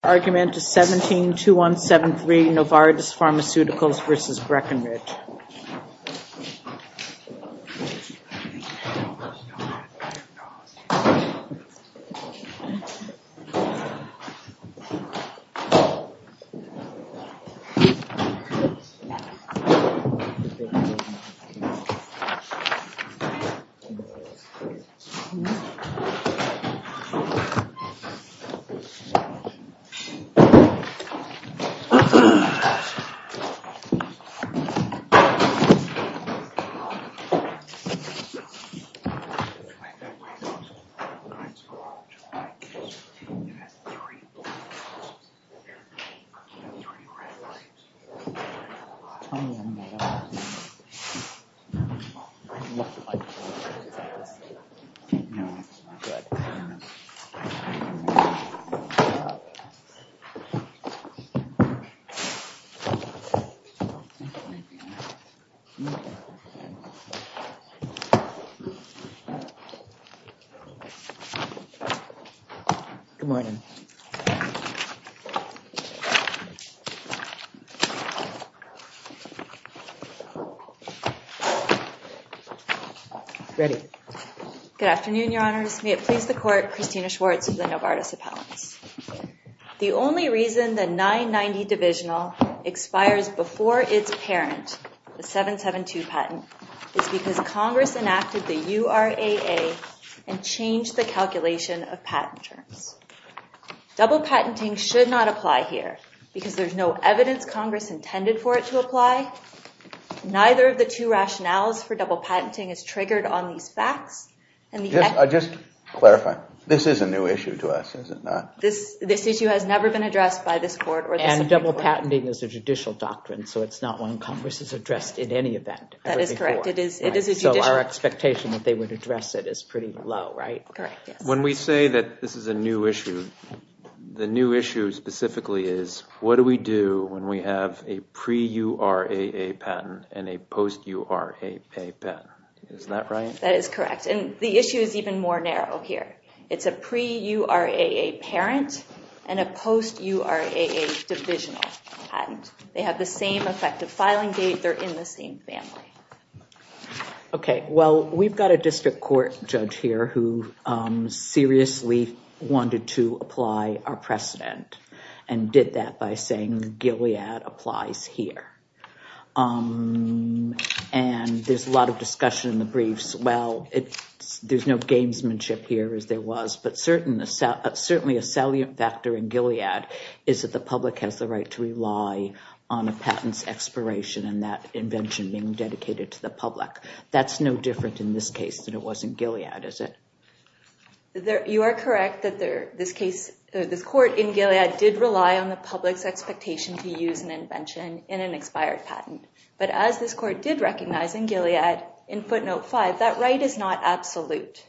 172173 Novartis Pharmaceuticals v. Breckenridge Pharmaceuticals v. Breckenridge Good afternoon, Your Honors. May it please the Court, Christina Schwartz of the Novartis Pharmaceuticals Corp. The only reason the 990 divisional expires before its parent, the 772 patent, is because Congress enacted the URAA and changed the calculation of patent terms. Double patenting should not apply here because there's no evidence Congress intended for it to apply. Neither of the two rationales for double patenting is triggered on these This issue has never been addressed by this Court or the Supreme Court. And double patenting is a judicial doctrine, so it's not one Congress has addressed in any event. That is correct. It is judicial. So our expectation that they would address it is pretty low, right? Correct, yes. When we say that this is a new issue, the new issue specifically is, what do we do when we have a pre-URAA patent and a post-URAA patent? Is that right? That is correct. And the issue is even more narrow here. It's a pre-URAA parent and a post-URAA divisional patent. They have the same effective filing date. They're in the same family. Okay, well, we've got a district court judge here who seriously wanted to apply our precedent and did that by saying Gilead applies here. And there's a lot of discussion in the briefs. Well, there's no gamesmanship here as there was, but certainly a salient factor in Gilead is that the public has the right to rely on a patent's expiration and that invention being dedicated to the public. That's no different in this case than it was in Gilead, is it? You are correct that this court in Gilead did rely on the public's expectation to use an invention in an expired patent. But as this court did recognize in Gilead in footnote 5, that right is not absolute.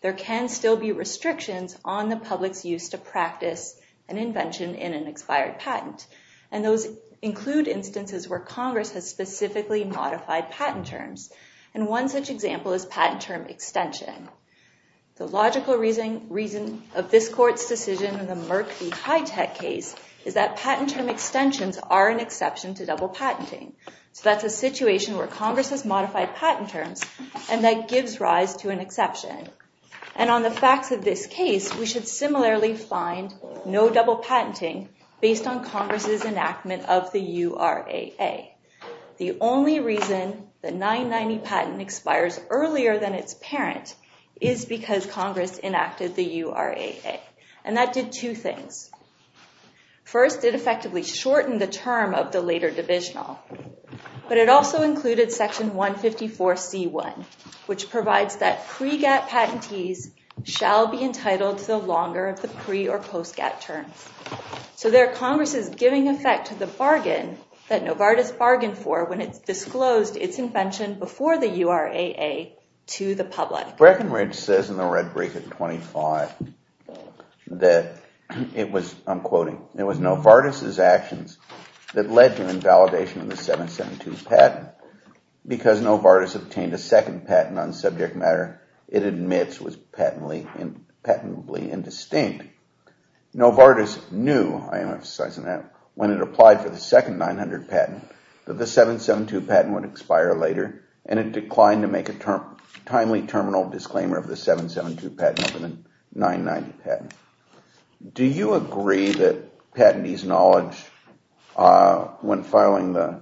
There can still be restrictions on the public's use to practice an invention in an expired patent. And those include instances where Congress has specifically modified patent terms. And one such example is patent term extension. The logical reason of this court's decision in the Merck v. Hitech case is that patent term extensions are an exception to double patenting. So that's a situation where Congress has modified patent terms and that gives rise to an exception. And on the facts of this case, we should similarly find no double patenting based on Congress's enactment of the URAA. The only reason the 990 patent expires earlier than its parent is because Congress enacted the URAA. And that did two things. First, it effectively shortened the term of the later divisional. But it also included section 154C1, which provides that pre-GATT patentees shall be entitled to the longer of the pre- or post-GATT terms. So there Congress is giving effect to the bargain that Novartis bargained for when it disclosed its invention before the URAA to the public. Breckenridge says in the red brief at 25 that it was, I'm quoting, it was Novartis's actions that led to invalidation of the 772 patent because Novartis obtained a second patent on subject matter it admits was patentably indistinct. Novartis knew, I emphasize on that, when it applied for the second 900 patent that the 772 patent would expire later and it declined to make a timely terminal disclaimer of the 772 patent over the 990 patent. Do you agree that patentees' knowledge when filing the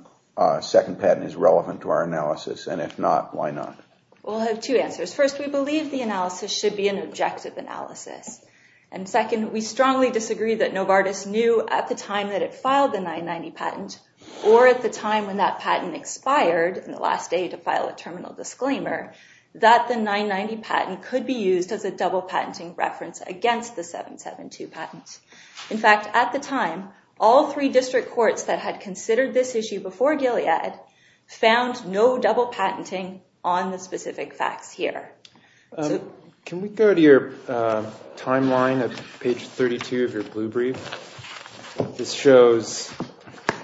second patent is relevant to our analysis? And if not, why not? Well, I have two answers. First, we believe the analysis should be an objective analysis. And second, we strongly disagree that Novartis knew at the time that it filed the 990 patent or at the time when that patent expired in the last day to file a terminal disclaimer that the 990 patent could be used as a double patenting reference against the 772 patent. In fact, at the time, all three district courts that had considered this issue before Gilead found no double patenting on the specific facts here. Can we go to your timeline at page 32 of your blue brief? This shows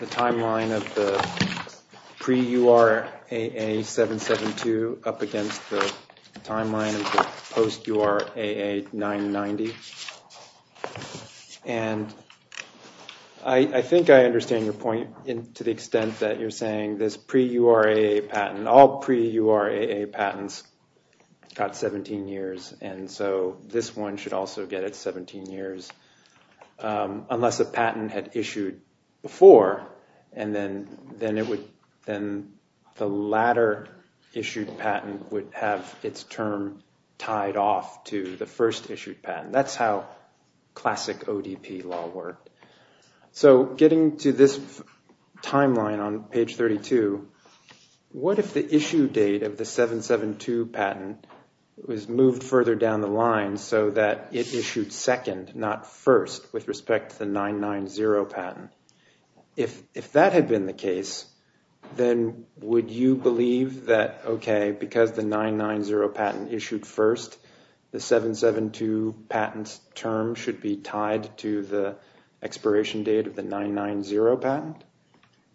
the timeline of the pre-URAA 772 up against the timeline of the post-URAA 990. And I think I understand your point to the extent that you're saying this pre-URAA patent, all pre-URAA patents got 17 years, and so this one should also get its 17 years unless a patent had issued before and then the latter issued patent would have its term tied off to the first issued patent. That's how classic ODP law worked. So getting to this timeline on page 32, what if the issue date of the 772 patent was moved further down the line so that it issued second, not first, with respect to the 990 patent? If that had been the case, then would you believe that, okay, because the 990 patent issued first, the 772 patent's term should be tied to the expiration date of the 990 patent?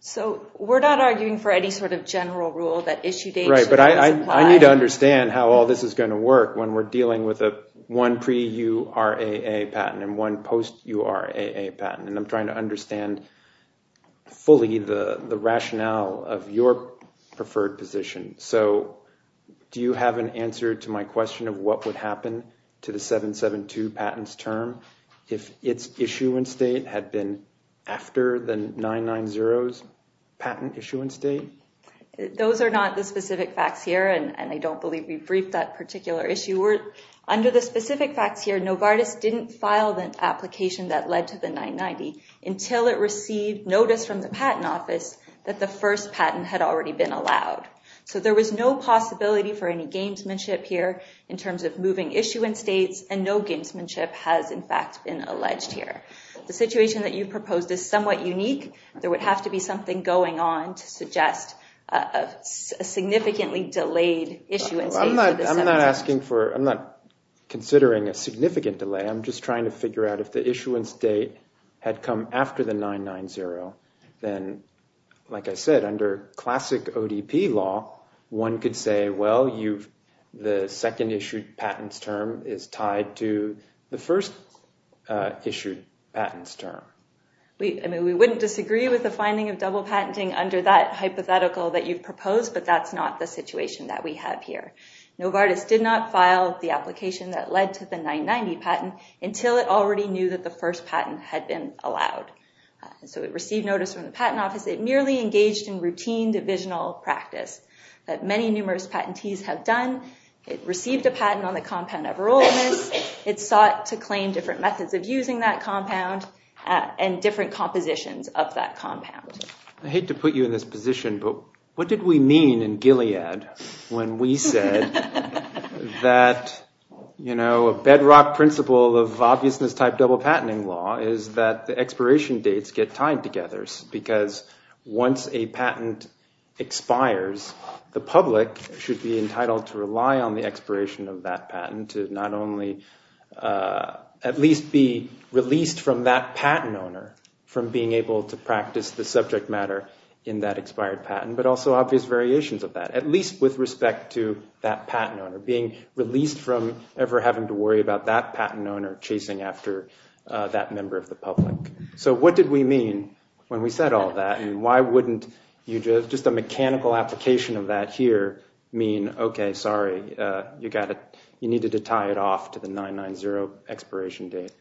So we're not arguing for any sort of general rule that issue dates should be supplied. Right, but I need to understand how all this is going to work when we're dealing with one pre-URAA patent and one post-URAA patent, and I'm trying to understand fully the rationale of your preferred position. So do you have an answer to my question of what would happen to the 772 patent's term if its issuance date had been after the 990's patent issuance date? Those are not the specific facts here, and I don't believe we've briefed that particular issue. Under the specific facts here, Novartis didn't file the application that led to the 990 until it received notice from the Patent Office that the first patent had already been allowed. So there was no possibility for any gamesmanship here in terms of moving issuance dates, and no gamesmanship has, in fact, been alleged here. The situation that you proposed is somewhat unique. There would have to be something going on to suggest a significantly delayed issuance date. I'm not considering a significant delay. I'm just trying to figure out if the issuance date had come after the 990, then, like I said, under classic ODP law, one could say, well, the second issued patent's term is tied to the first issued patent's term. We wouldn't disagree with the finding of double patenting under that hypothetical that you've proposed, but that's not the situation that we have here. Novartis did not file the application that led to the 990 patent until it already knew that the first patent had been allowed. So it received notice from the Patent Office. It merely engaged in routine divisional practice that many numerous patentees have done. It received a patent on the compound of Everolimus. It sought to claim different methods of using that compound and different compositions of that compound. I hate to put you in this position, but what did we mean in Gilead when we said that a bedrock principle of obviousness-type double patenting law is that the expiration dates get tied together because once a patent expires, the public should be entitled to rely on the expiration of that patent to not only at least be released from that patent owner, from being able to practice the subject matter in that expired patent, but also obvious variations of that, at least with respect to that patent owner, being released from ever having to worry about that patent owner chasing after that member of the public. So what did we mean when we said all that, and why wouldn't just a mechanical application of that here mean, okay, sorry, you needed to tie it off to the 990 expiration date?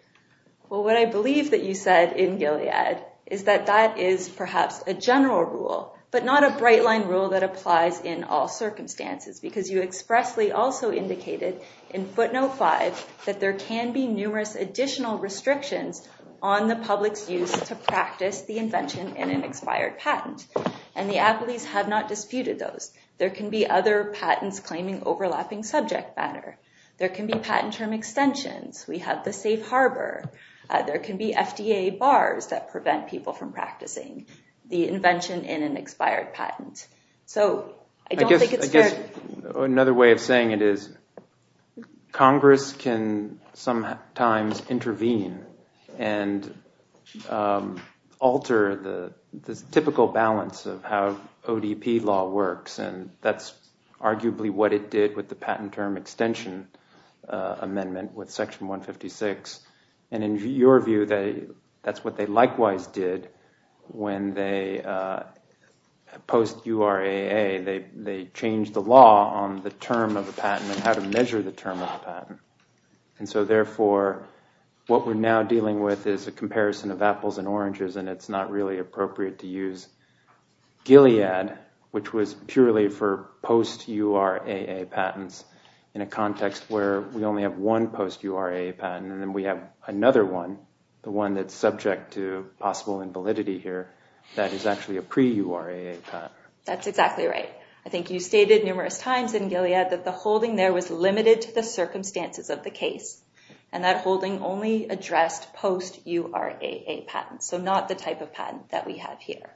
Well, what I believe that you said in Gilead is that that is perhaps a general rule, but not a bright-line rule that applies in all circumstances because you expressly also indicated in footnote 5 that there can be numerous additional restrictions on the public's use to practice the invention in an expired patent, and the athletes have not disputed those. There can be other patents claiming overlapping subject matter. There can be patent term extensions. We have the safe harbor. There can be FDA bars that prevent people from practicing the invention in an expired patent. I guess another way of saying it is Congress can sometimes intervene and alter the typical balance of how ODP law works, and that's arguably what it did with the patent term extension amendment with Section 156, and in your view, that's what they likewise did when they post-URAA. They changed the law on the term of a patent and how to measure the term of a patent, and so therefore what we're now dealing with is a comparison of apples and oranges, and it's not really appropriate to use Gilead, which was purely for post-URAA patents, in a context where we only have one post-URAA patent, and then we have another one, the one that's subject to possible invalidity here, that is actually a pre-URAA patent. That's exactly right. I think you stated numerous times in Gilead that the holding there was limited to the circumstances of the case, and that holding only addressed post-URAA patents, so not the type of patent that we have here,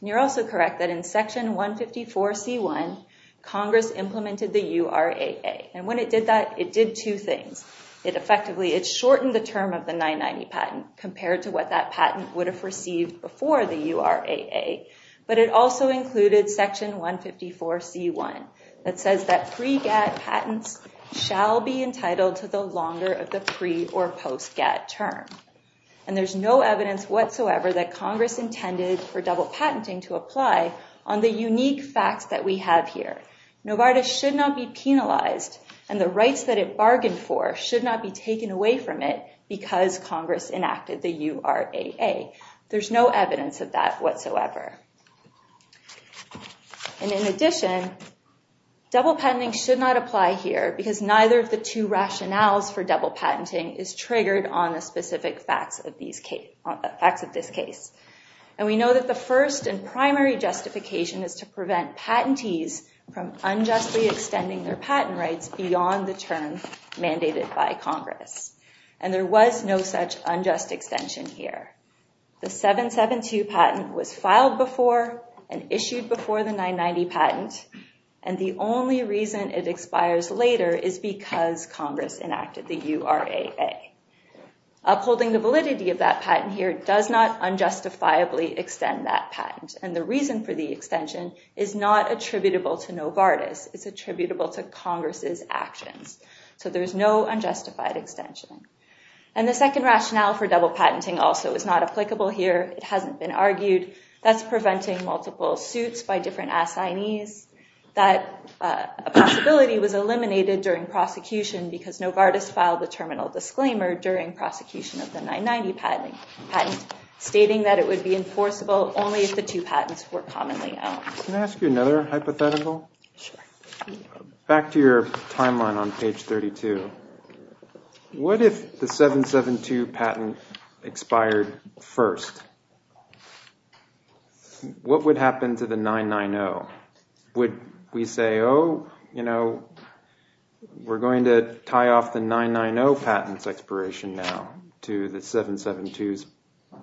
and you're also correct that in Section 154C1, Congress implemented the URAA, and when it did that, it did two things. It effectively shortened the term of the 990 patent compared to what that patent would have received before the URAA, but it also included Section 154C1 that says that pre-GAD patents shall be entitled to the longer of the pre- or post-GAD term, and there's no evidence whatsoever that Congress intended for double patenting to apply on the unique facts that we have here. Novartis should not be penalized, and the rights that it bargained for should not be taken away from it because Congress enacted the URAA. There's no evidence of that whatsoever, and in addition, double patenting should not apply here because neither of the two rationales for double patenting is triggered on the specific facts of this case, and we know that the first and primary justification is to prevent patentees from unjustly extending their patent rights beyond the term mandated by Congress, and there was no such unjust extension here. The 772 patent was filed before and issued before the 990 patent, and the only reason it expires later is because Congress enacted the URAA. Upholding the validity of that patent here does not unjustifiably extend that patent, and the reason for the extension is not attributable to Novartis. It's attributable to Congress's actions, so there's no unjustified extension, and the second rationale for double patenting also is not applicable here. It hasn't been argued. That's preventing multiple suits by different assignees. That possibility was eliminated during prosecution because Novartis filed the terminal disclaimer during prosecution of the 990 patent, stating that it would be enforceable only if the two patents were commonly owned. Can I ask you another hypothetical? Sure. Back to your timeline on page 32. What if the 772 patent expired first? What would happen to the 990? Would we say, oh, you know, we're going to tie off the 990 patent's expiration now to the 772's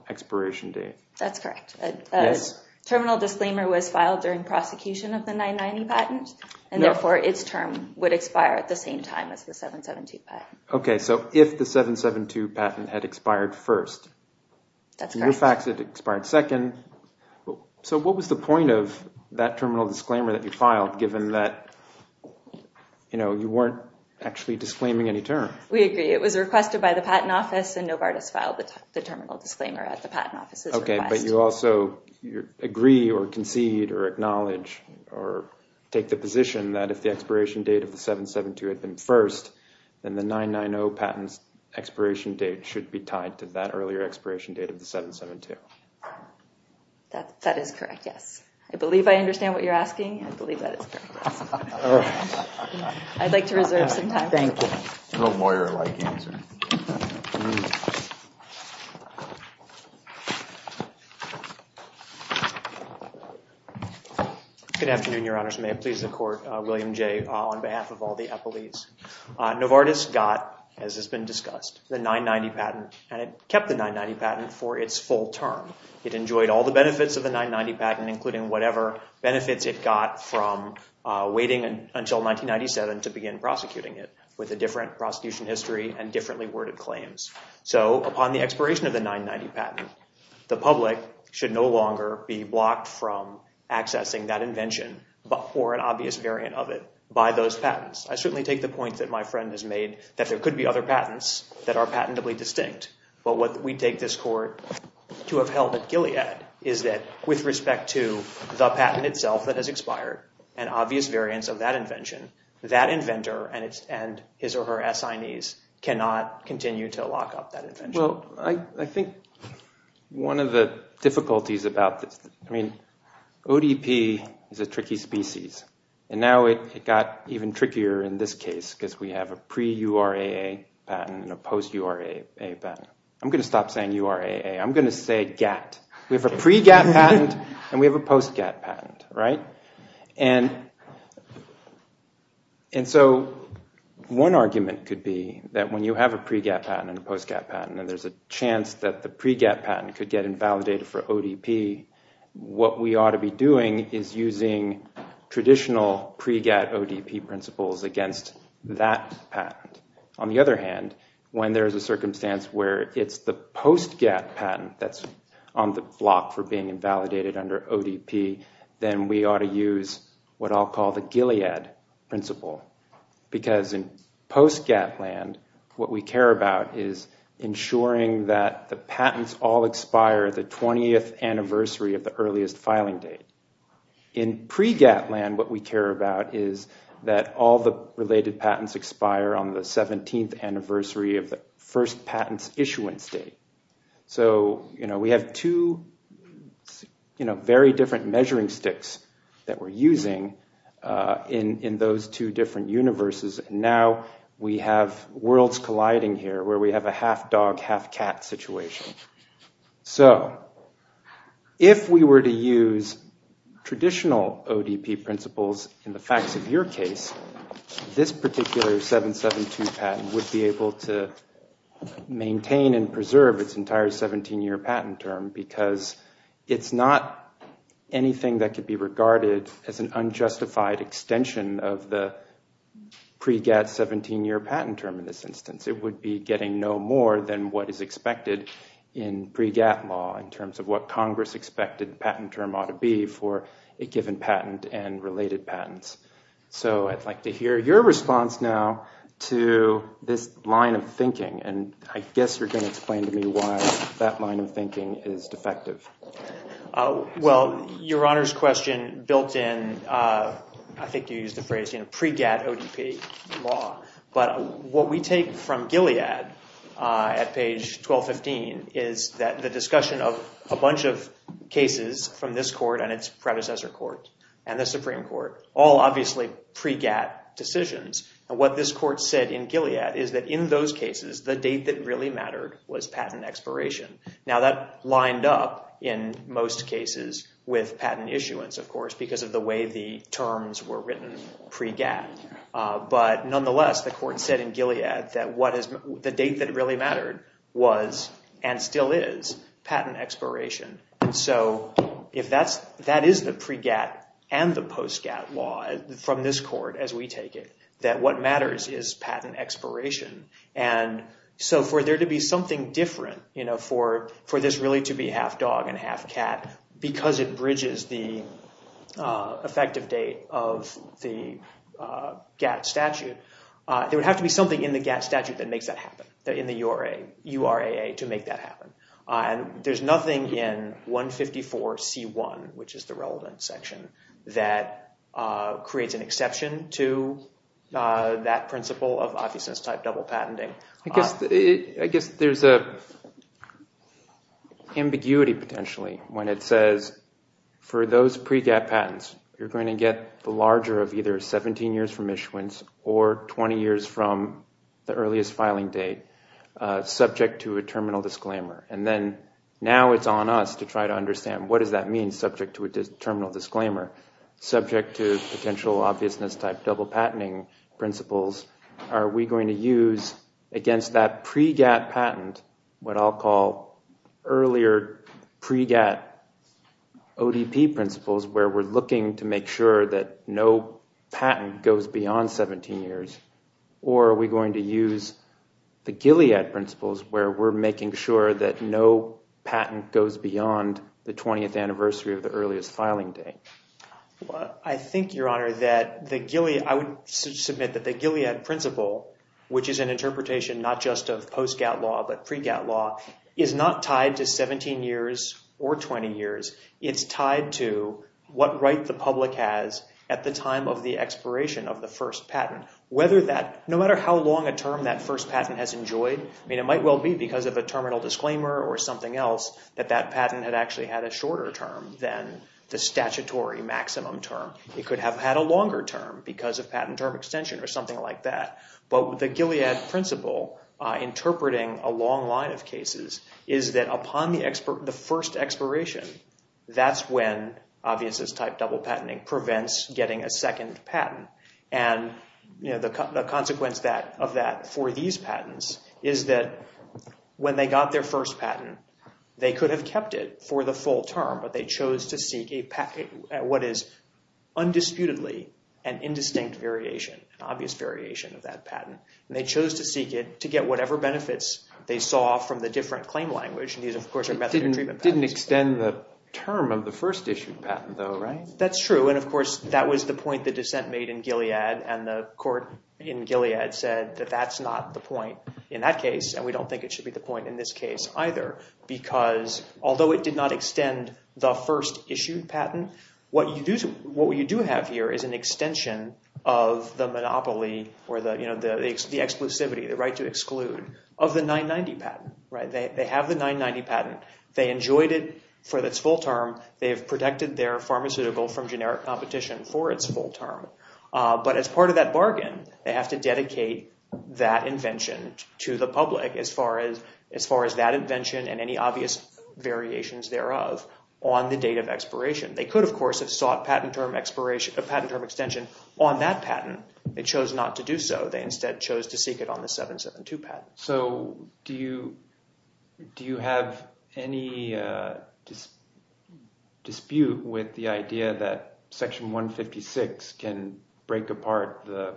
expiration date? That's correct. Terminal disclaimer was filed during prosecution of the 990 patent, and therefore its term would expire at the same time as the 772 patent. Okay, so if the 772 patent had expired first. That's correct. In your facts, it expired second. So what was the point of that terminal disclaimer that you filed, given that you weren't actually disclaiming any term? We agree. It was requested by the Patent Office, and Novartis filed the terminal disclaimer at the Patent Office's request. Okay, but you also agree or concede or acknowledge or take the position that if the expiration date of the 772 had been first, then the 990 patent's expiration date should be tied to that earlier expiration date of the 772. That is correct, yes. I believe I understand what you're asking. I believe that is correct, yes. I'd like to reserve some time. Thank you. A little lawyer-like answer. Good afternoon, Your Honors. May it please the Court. William Jay on behalf of all the Eppleys. Novartis got, as has been discussed, the 990 patent, and it kept the 990 patent for its full term. It enjoyed all the benefits of the 990 patent, including whatever benefits it got from waiting until 1997 to begin prosecuting it, with a different prosecution history and differently worded claims. So upon the expiration of the 990 patent, the public should no longer be blocked from accessing that invention or an obvious variant of it by those patents. I certainly take the point that my friend has made, that there could be other patents that are patentably distinct. But what we take this Court to have held at Gilead is that with respect to the patent itself that has expired and obvious variants of that invention, that inventor and his or her assignees cannot continue to lock up that invention. Well, I think one of the difficulties about this, I mean, ODP is a tricky species. And now it got even trickier in this case because we have a pre-URAA patent and a post-URAA patent. I'm going to stop saying URAA. I'm going to say GATT. We have a pre-GATT patent and we have a post-GATT patent, right? And so one argument could be that when you have a pre-GATT patent and a post-GATT patent and there's a chance that the pre-GATT patent could get invalidated for ODP, what we ought to be doing is using traditional pre-GATT ODP principles against that patent. On the other hand, when there's a circumstance where it's the post-GATT patent that's on the block for being invalidated under ODP, then we ought to use what I'll call the Gilead principle. Because in post-GATT land, what we care about is ensuring that the patents all expire the 20th anniversary of the earliest filing date. In pre-GATT land, what we care about is that all the related patents expire on the 17th anniversary of the first patent's issuance date. So we have two very different measuring sticks that we're using in those two different universes and now we have worlds colliding here where we have a half-dog, half-cat situation. So if we were to use traditional ODP principles in the facts of your case, this particular 772 patent would be able to maintain and preserve its entire 17-year patent term because it's not anything that could be regarded as an unjustified extension of the pre-GATT 17-year patent term in this instance. It would be getting no more than what is expected in pre-GATT law in terms of what Congress expected the patent term ought to be for a given patent and related patents. So I'd like to hear your response now to this line of thinking, and I guess you're going to explain to me why that line of thinking is defective. Well, Your Honor's question built in, I think you used the phrase, pre-GATT ODP law, but what we take from Gilead at page 1215 is that the discussion of a bunch of cases from this court and its predecessor court and the Supreme Court, all obviously pre-GATT decisions, and what this court said in Gilead is that in those cases, the date that really mattered was patent expiration. Now that lined up in most cases with patent issuance, of course, because of the way the terms were written pre-GATT. But nonetheless, the court said in Gilead that the date that really mattered was and still is patent expiration. And so if that is the pre-GATT and the post-GATT law from this court as we take it, that what matters is patent expiration. And so for there to be something different, for this really to be half dog and half cat, because it bridges the effective date of the GATT statute, there would have to be something in the GATT statute that makes that happen, in the URAA to make that happen. There's nothing in 154C1, which is the relevant section, that creates an exception to that principle of office-type double patenting. I guess there's an ambiguity potentially when it says for those pre-GATT patents, you're going to get the larger of either 17 years from issuance or 20 years from the earliest filing date, subject to a terminal disclaimer. And then now it's on us to try to understand what does that mean, subject to a terminal disclaimer, subject to potential obviousness-type double patenting principles. Are we going to use, against that pre-GATT patent, what I'll call earlier pre-GATT ODP principles, where we're looking to make sure that no patent goes beyond 17 years, or are we going to use the Gilead principles, where we're making sure that no patent goes beyond the 20th anniversary of the earliest filing date? I think, Your Honor, that I would submit that the Gilead principle, which is an interpretation not just of post-GATT law but pre-GATT law, is not tied to 17 years or 20 years. It's tied to what right the public has at the time of the expiration of the first patent. No matter how long a term that first patent has enjoyed, it might well be because of a terminal disclaimer or something else that that patent had actually had a shorter term than the statutory maximum term. It could have had a longer term because of patent term extension or something like that. But the Gilead principle, interpreting a long line of cases, is that upon the first expiration, that's when obviousness-type double patenting prevents getting a second patent. The consequence of that for these patents is that when they got their first patent, they could have kept it for the full term, but they chose to seek what is undisputedly an indistinct variation, an obvious variation of that patent. They chose to seek it to get whatever benefits they saw from the different claim language. These, of course, are method of treatment patents. It didn't extend the term of the first issued patent, though, right? That's true. Of course, that was the point the dissent made in Gilead, and the court in Gilead said that that's not the point in that case, and we don't think it should be the point in this case either because although it did not extend the first issued patent, what you do have here is an extension of the monopoly or the exclusivity, the right to exclude of the 990 patent. They have the 990 patent. They enjoyed it for its full term. They have protected their pharmaceutical from generic competition for its full term, but as part of that bargain, they have to dedicate that invention to the public as far as that invention and any obvious variations thereof on the date of expiration. They could, of course, have sought patent term extension on that patent. They chose not to do so. They instead chose to seek it on the 772 patent. So do you have any dispute with the idea that Section 156 can break apart the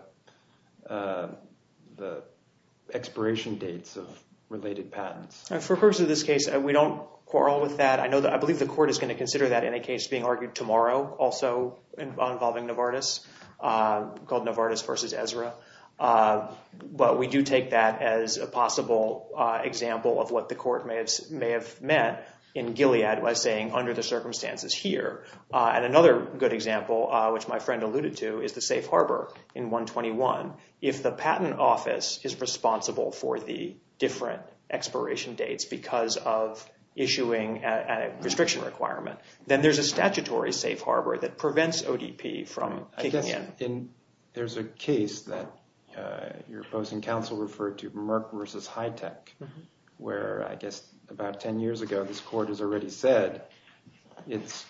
expiration dates of related patents? For the purpose of this case, we don't quarrel with that. I believe the court is going to consider that in a case being argued tomorrow also involving Novartis called Novartis v. Ezra, but we do take that as a possible example of what the court may have meant in Gilead by saying under the circumstances here. And another good example, which my friend alluded to, is the safe harbor in 121. If the patent office is responsible for the different expiration dates because of issuing a restriction requirement, then there's a statutory safe harbor that prevents ODP from kicking in. There's a case that your opposing counsel referred to, Merck v. Hitech, where I guess about 10 years ago this court has already said it's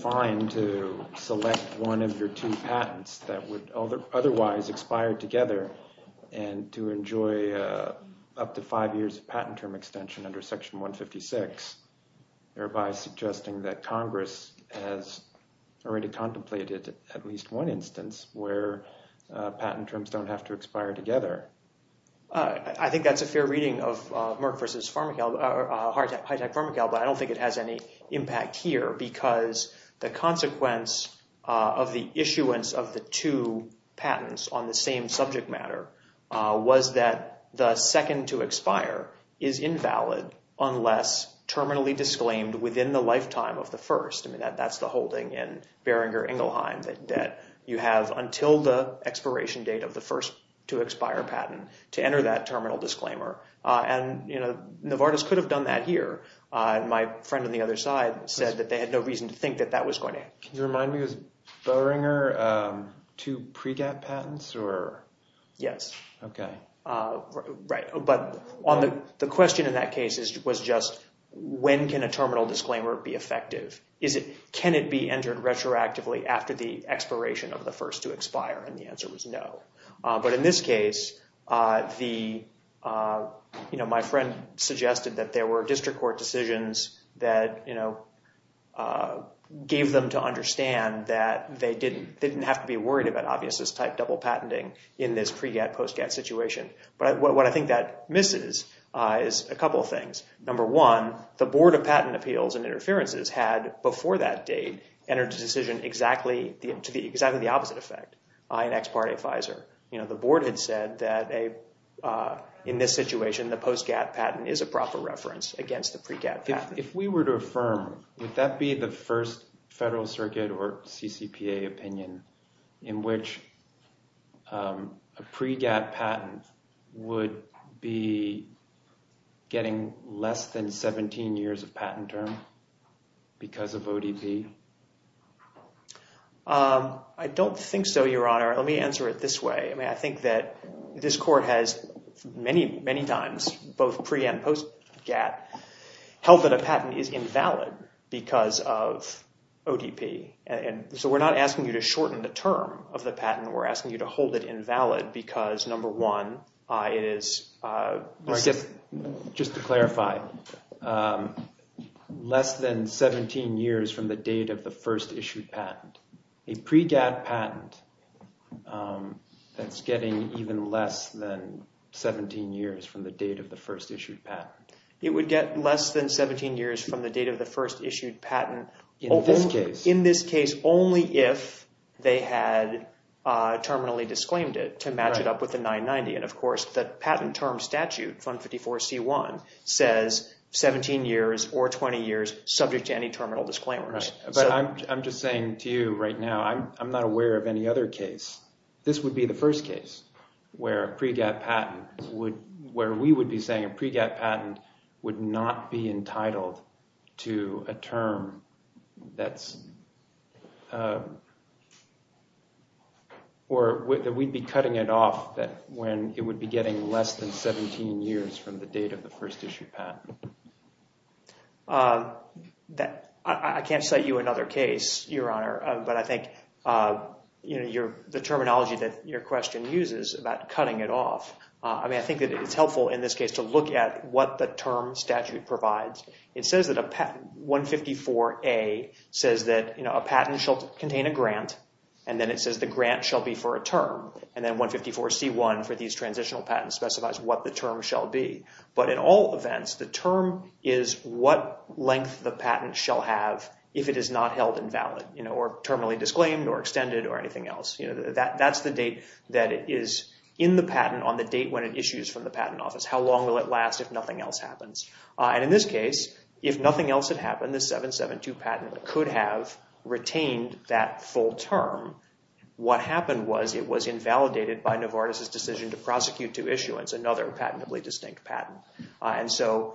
fine to select one of your two patents that would otherwise expire together and to enjoy up to five years of patent term extension under Section 156, thereby suggesting that Congress has already contemplated at least one instance where patent terms don't have to expire together. I think that's a fair reading of Merck v. Hitech-Pharmacal, but I don't think it has any impact here because the consequence of the issuance of the two patents on the same subject matter was that the second to expire is invalid unless terminally disclaimed within the lifetime of the first. I mean, that's the holding in Boehringer-Ingelheim that you have until the expiration date of the first to expire patent to enter that terminal disclaimer. And Novartis could have done that here. My friend on the other side said that they had no reason to think that that was going to happen. Can you remind me, was Boehringer two PRECAP patents? Yes. Okay. Right. But the question in that case was just when can a terminal disclaimer be effective? Can it be entered retroactively after the expiration of the first to expire? And the answer was no. But in this case, my friend suggested that there were district court decisions that gave them to understand that they didn't have to be worried about obviousness-type double patenting in this PRECAP-POSTCAP situation. But what I think that misses is a couple of things. Number one, the Board of Patent Appeals and Interferences had, before that date, entered a decision to exactly the opposite effect in ex parte Pfizer. The board had said that in this situation, the POSTGAP patent is a proper reference against the PRECAP patent. If we were to affirm, would that be the first federal circuit or CCPA opinion in which a PRECAP patent would be getting less than 17 years of patent term because of ODP? I don't think so, Your Honor. Let me answer it this way. I think that this court has many, many times, both PRE and POSTGAP, held that a patent is invalid because of ODP. So we're not asking you to shorten the term of the patent. We're asking you to hold it invalid because, number one, it is— Just to clarify, less than 17 years from the date of the first issued patent. A PRECAP patent that's getting even less than 17 years from the date of the first issued patent. It would get less than 17 years from the date of the first issued patent. In this case. In this case, only if they had terminally disclaimed it to match it up with the 990. And, of course, the patent term statute, Fund 54C1, says 17 years or 20 years subject to any terminal disclaimers. But I'm just saying to you right now, I'm not aware of any other case. This would be the first case where a PREGAP patent would— where we would be saying a PREGAP patent would not be entitled to a term that's— or that we'd be cutting it off when it would be getting less than 17 years from the date of the first issued patent. I can't cite you another case, Your Honor, but I think the terminology that your question uses about cutting it off, I mean, I think that it's helpful in this case to look at what the term statute provides. It says that 154A says that a patent shall contain a grant, and then it says the grant shall be for a term, and then 154C1 for these transitional patents specifies what the term shall be. But in all events, the term is what length the patent shall have if it is not held invalid, or terminally disclaimed, or extended, or anything else. That's the date that it is in the patent on the date when it issues from the patent office. How long will it last if nothing else happens? And in this case, if nothing else had happened, this 772 patent could have retained that full term. What happened was it was invalidated by Novartis' decision to prosecute to issuance another patentably distinct patent. And so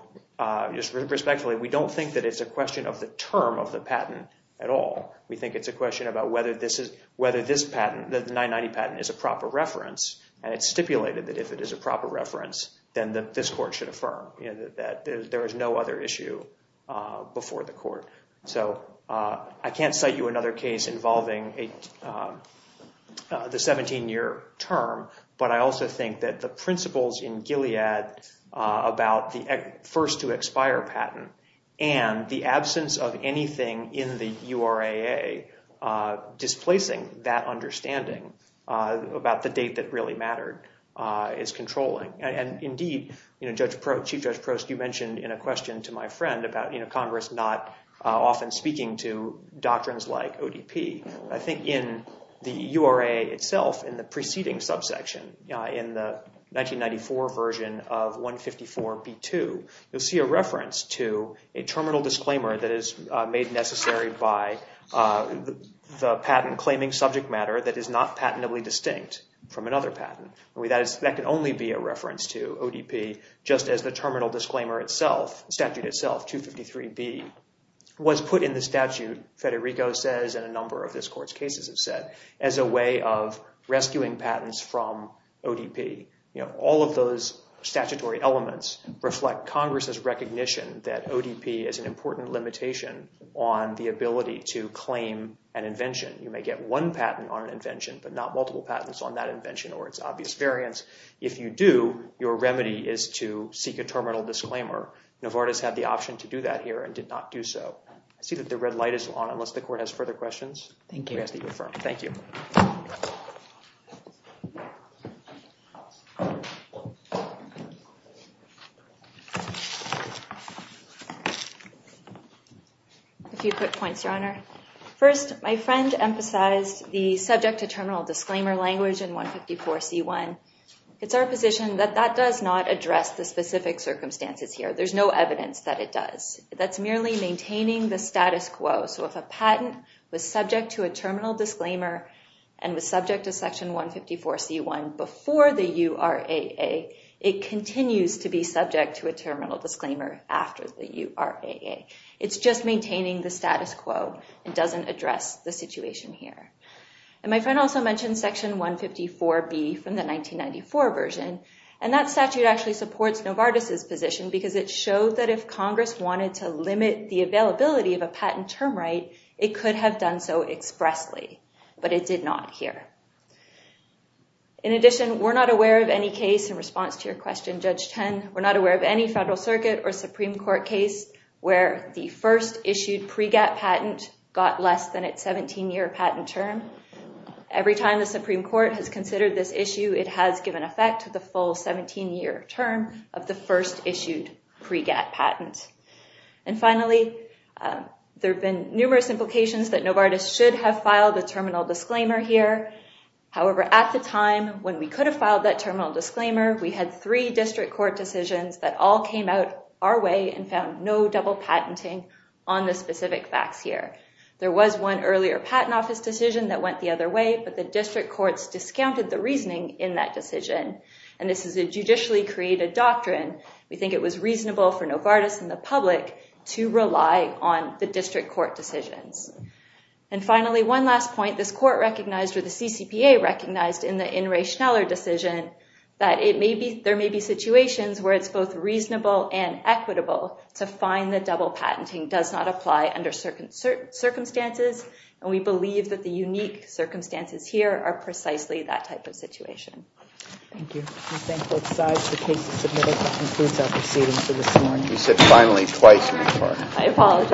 just respectfully, we don't think that it's a question of the term of the patent at all. We think it's a question about whether this patent, the 990 patent, is a proper reference, and it's stipulated that if it is a proper reference, then this court should affirm that there is no other issue before the court. So I can't cite you another case involving the 17-year term, but I also think that the principles in Gilead about the first-to-expire patent and the absence of anything in the URAA displacing that understanding about the date that really mattered is controlling. And indeed, Chief Judge Prost, you mentioned in a question to my friend about Congress not often speaking to doctrines like ODP. I think in the URAA itself, in the preceding subsection, in the 1994 version of 154b2, you'll see a reference to a terminal disclaimer that is made necessary by the patent claiming subject matter that is not patentably distinct from another patent. That can only be a reference to ODP, just as the terminal disclaimer itself, the statute itself, 253b, was put in the statute, Federico says, and a number of this court's cases have said, as a way of rescuing patents from ODP. All of those statutory elements reflect Congress's recognition that ODP is an important limitation on the ability to claim an invention. You may get one patent on an invention, but not multiple patents on that invention or its obvious variance. If you do, your remedy is to seek a terminal disclaimer. Novartis had the option to do that here and did not do so. I see that the red light is on unless the court has further questions. Thank you. A few quick points, Your Honor. First, my friend emphasized the subject to terminal disclaimer language in 154c1. It's our position that that does not address the specific circumstances here. There's no evidence that it does. That's merely maintaining the status quo. So if a patent was subject to a terminal disclaimer and was subject to section 154c1 before the URAA, it continues to be subject to a terminal disclaimer after the URAA. It's just maintaining the status quo. It doesn't address the situation here. And my friend also mentioned section 154b from the 1994 version. And that statute actually supports Novartis' position because it showed that if Congress wanted to limit the availability of a patent term right, it could have done so expressly. But it did not here. In addition, we're not aware of any case in response to your question, Judge Ten. We're not aware of any Federal Circuit or Supreme Court case where the first issued PREGAT patent got less than its 17-year patent term. Every time the Supreme Court has considered this issue, it has given effect to the full 17-year term of the first issued PREGAT patent. And finally, there have been numerous implications that Novartis should have filed a terminal disclaimer here. However, at the time when we could have filed that terminal disclaimer, we had three district court decisions that all came out our way and found no double patenting on the specific facts here. There was one earlier patent office decision that went the other way, but the district courts discounted the reasoning in that decision. And this is a judicially created doctrine. We think it was reasonable for Novartis and the public to rely on the district court decisions. And finally, one last point. This court recognized or the CCPA recognized in the In re Schneller decision that there may be situations where it's both reasonable and equitable to find that double patenting does not apply under certain circumstances. And we believe that the unique circumstances here are precisely that type of situation. Thank you. We thank both sides for cases submitted. That concludes our proceedings for this morning. You said, finally, twice. I apologize.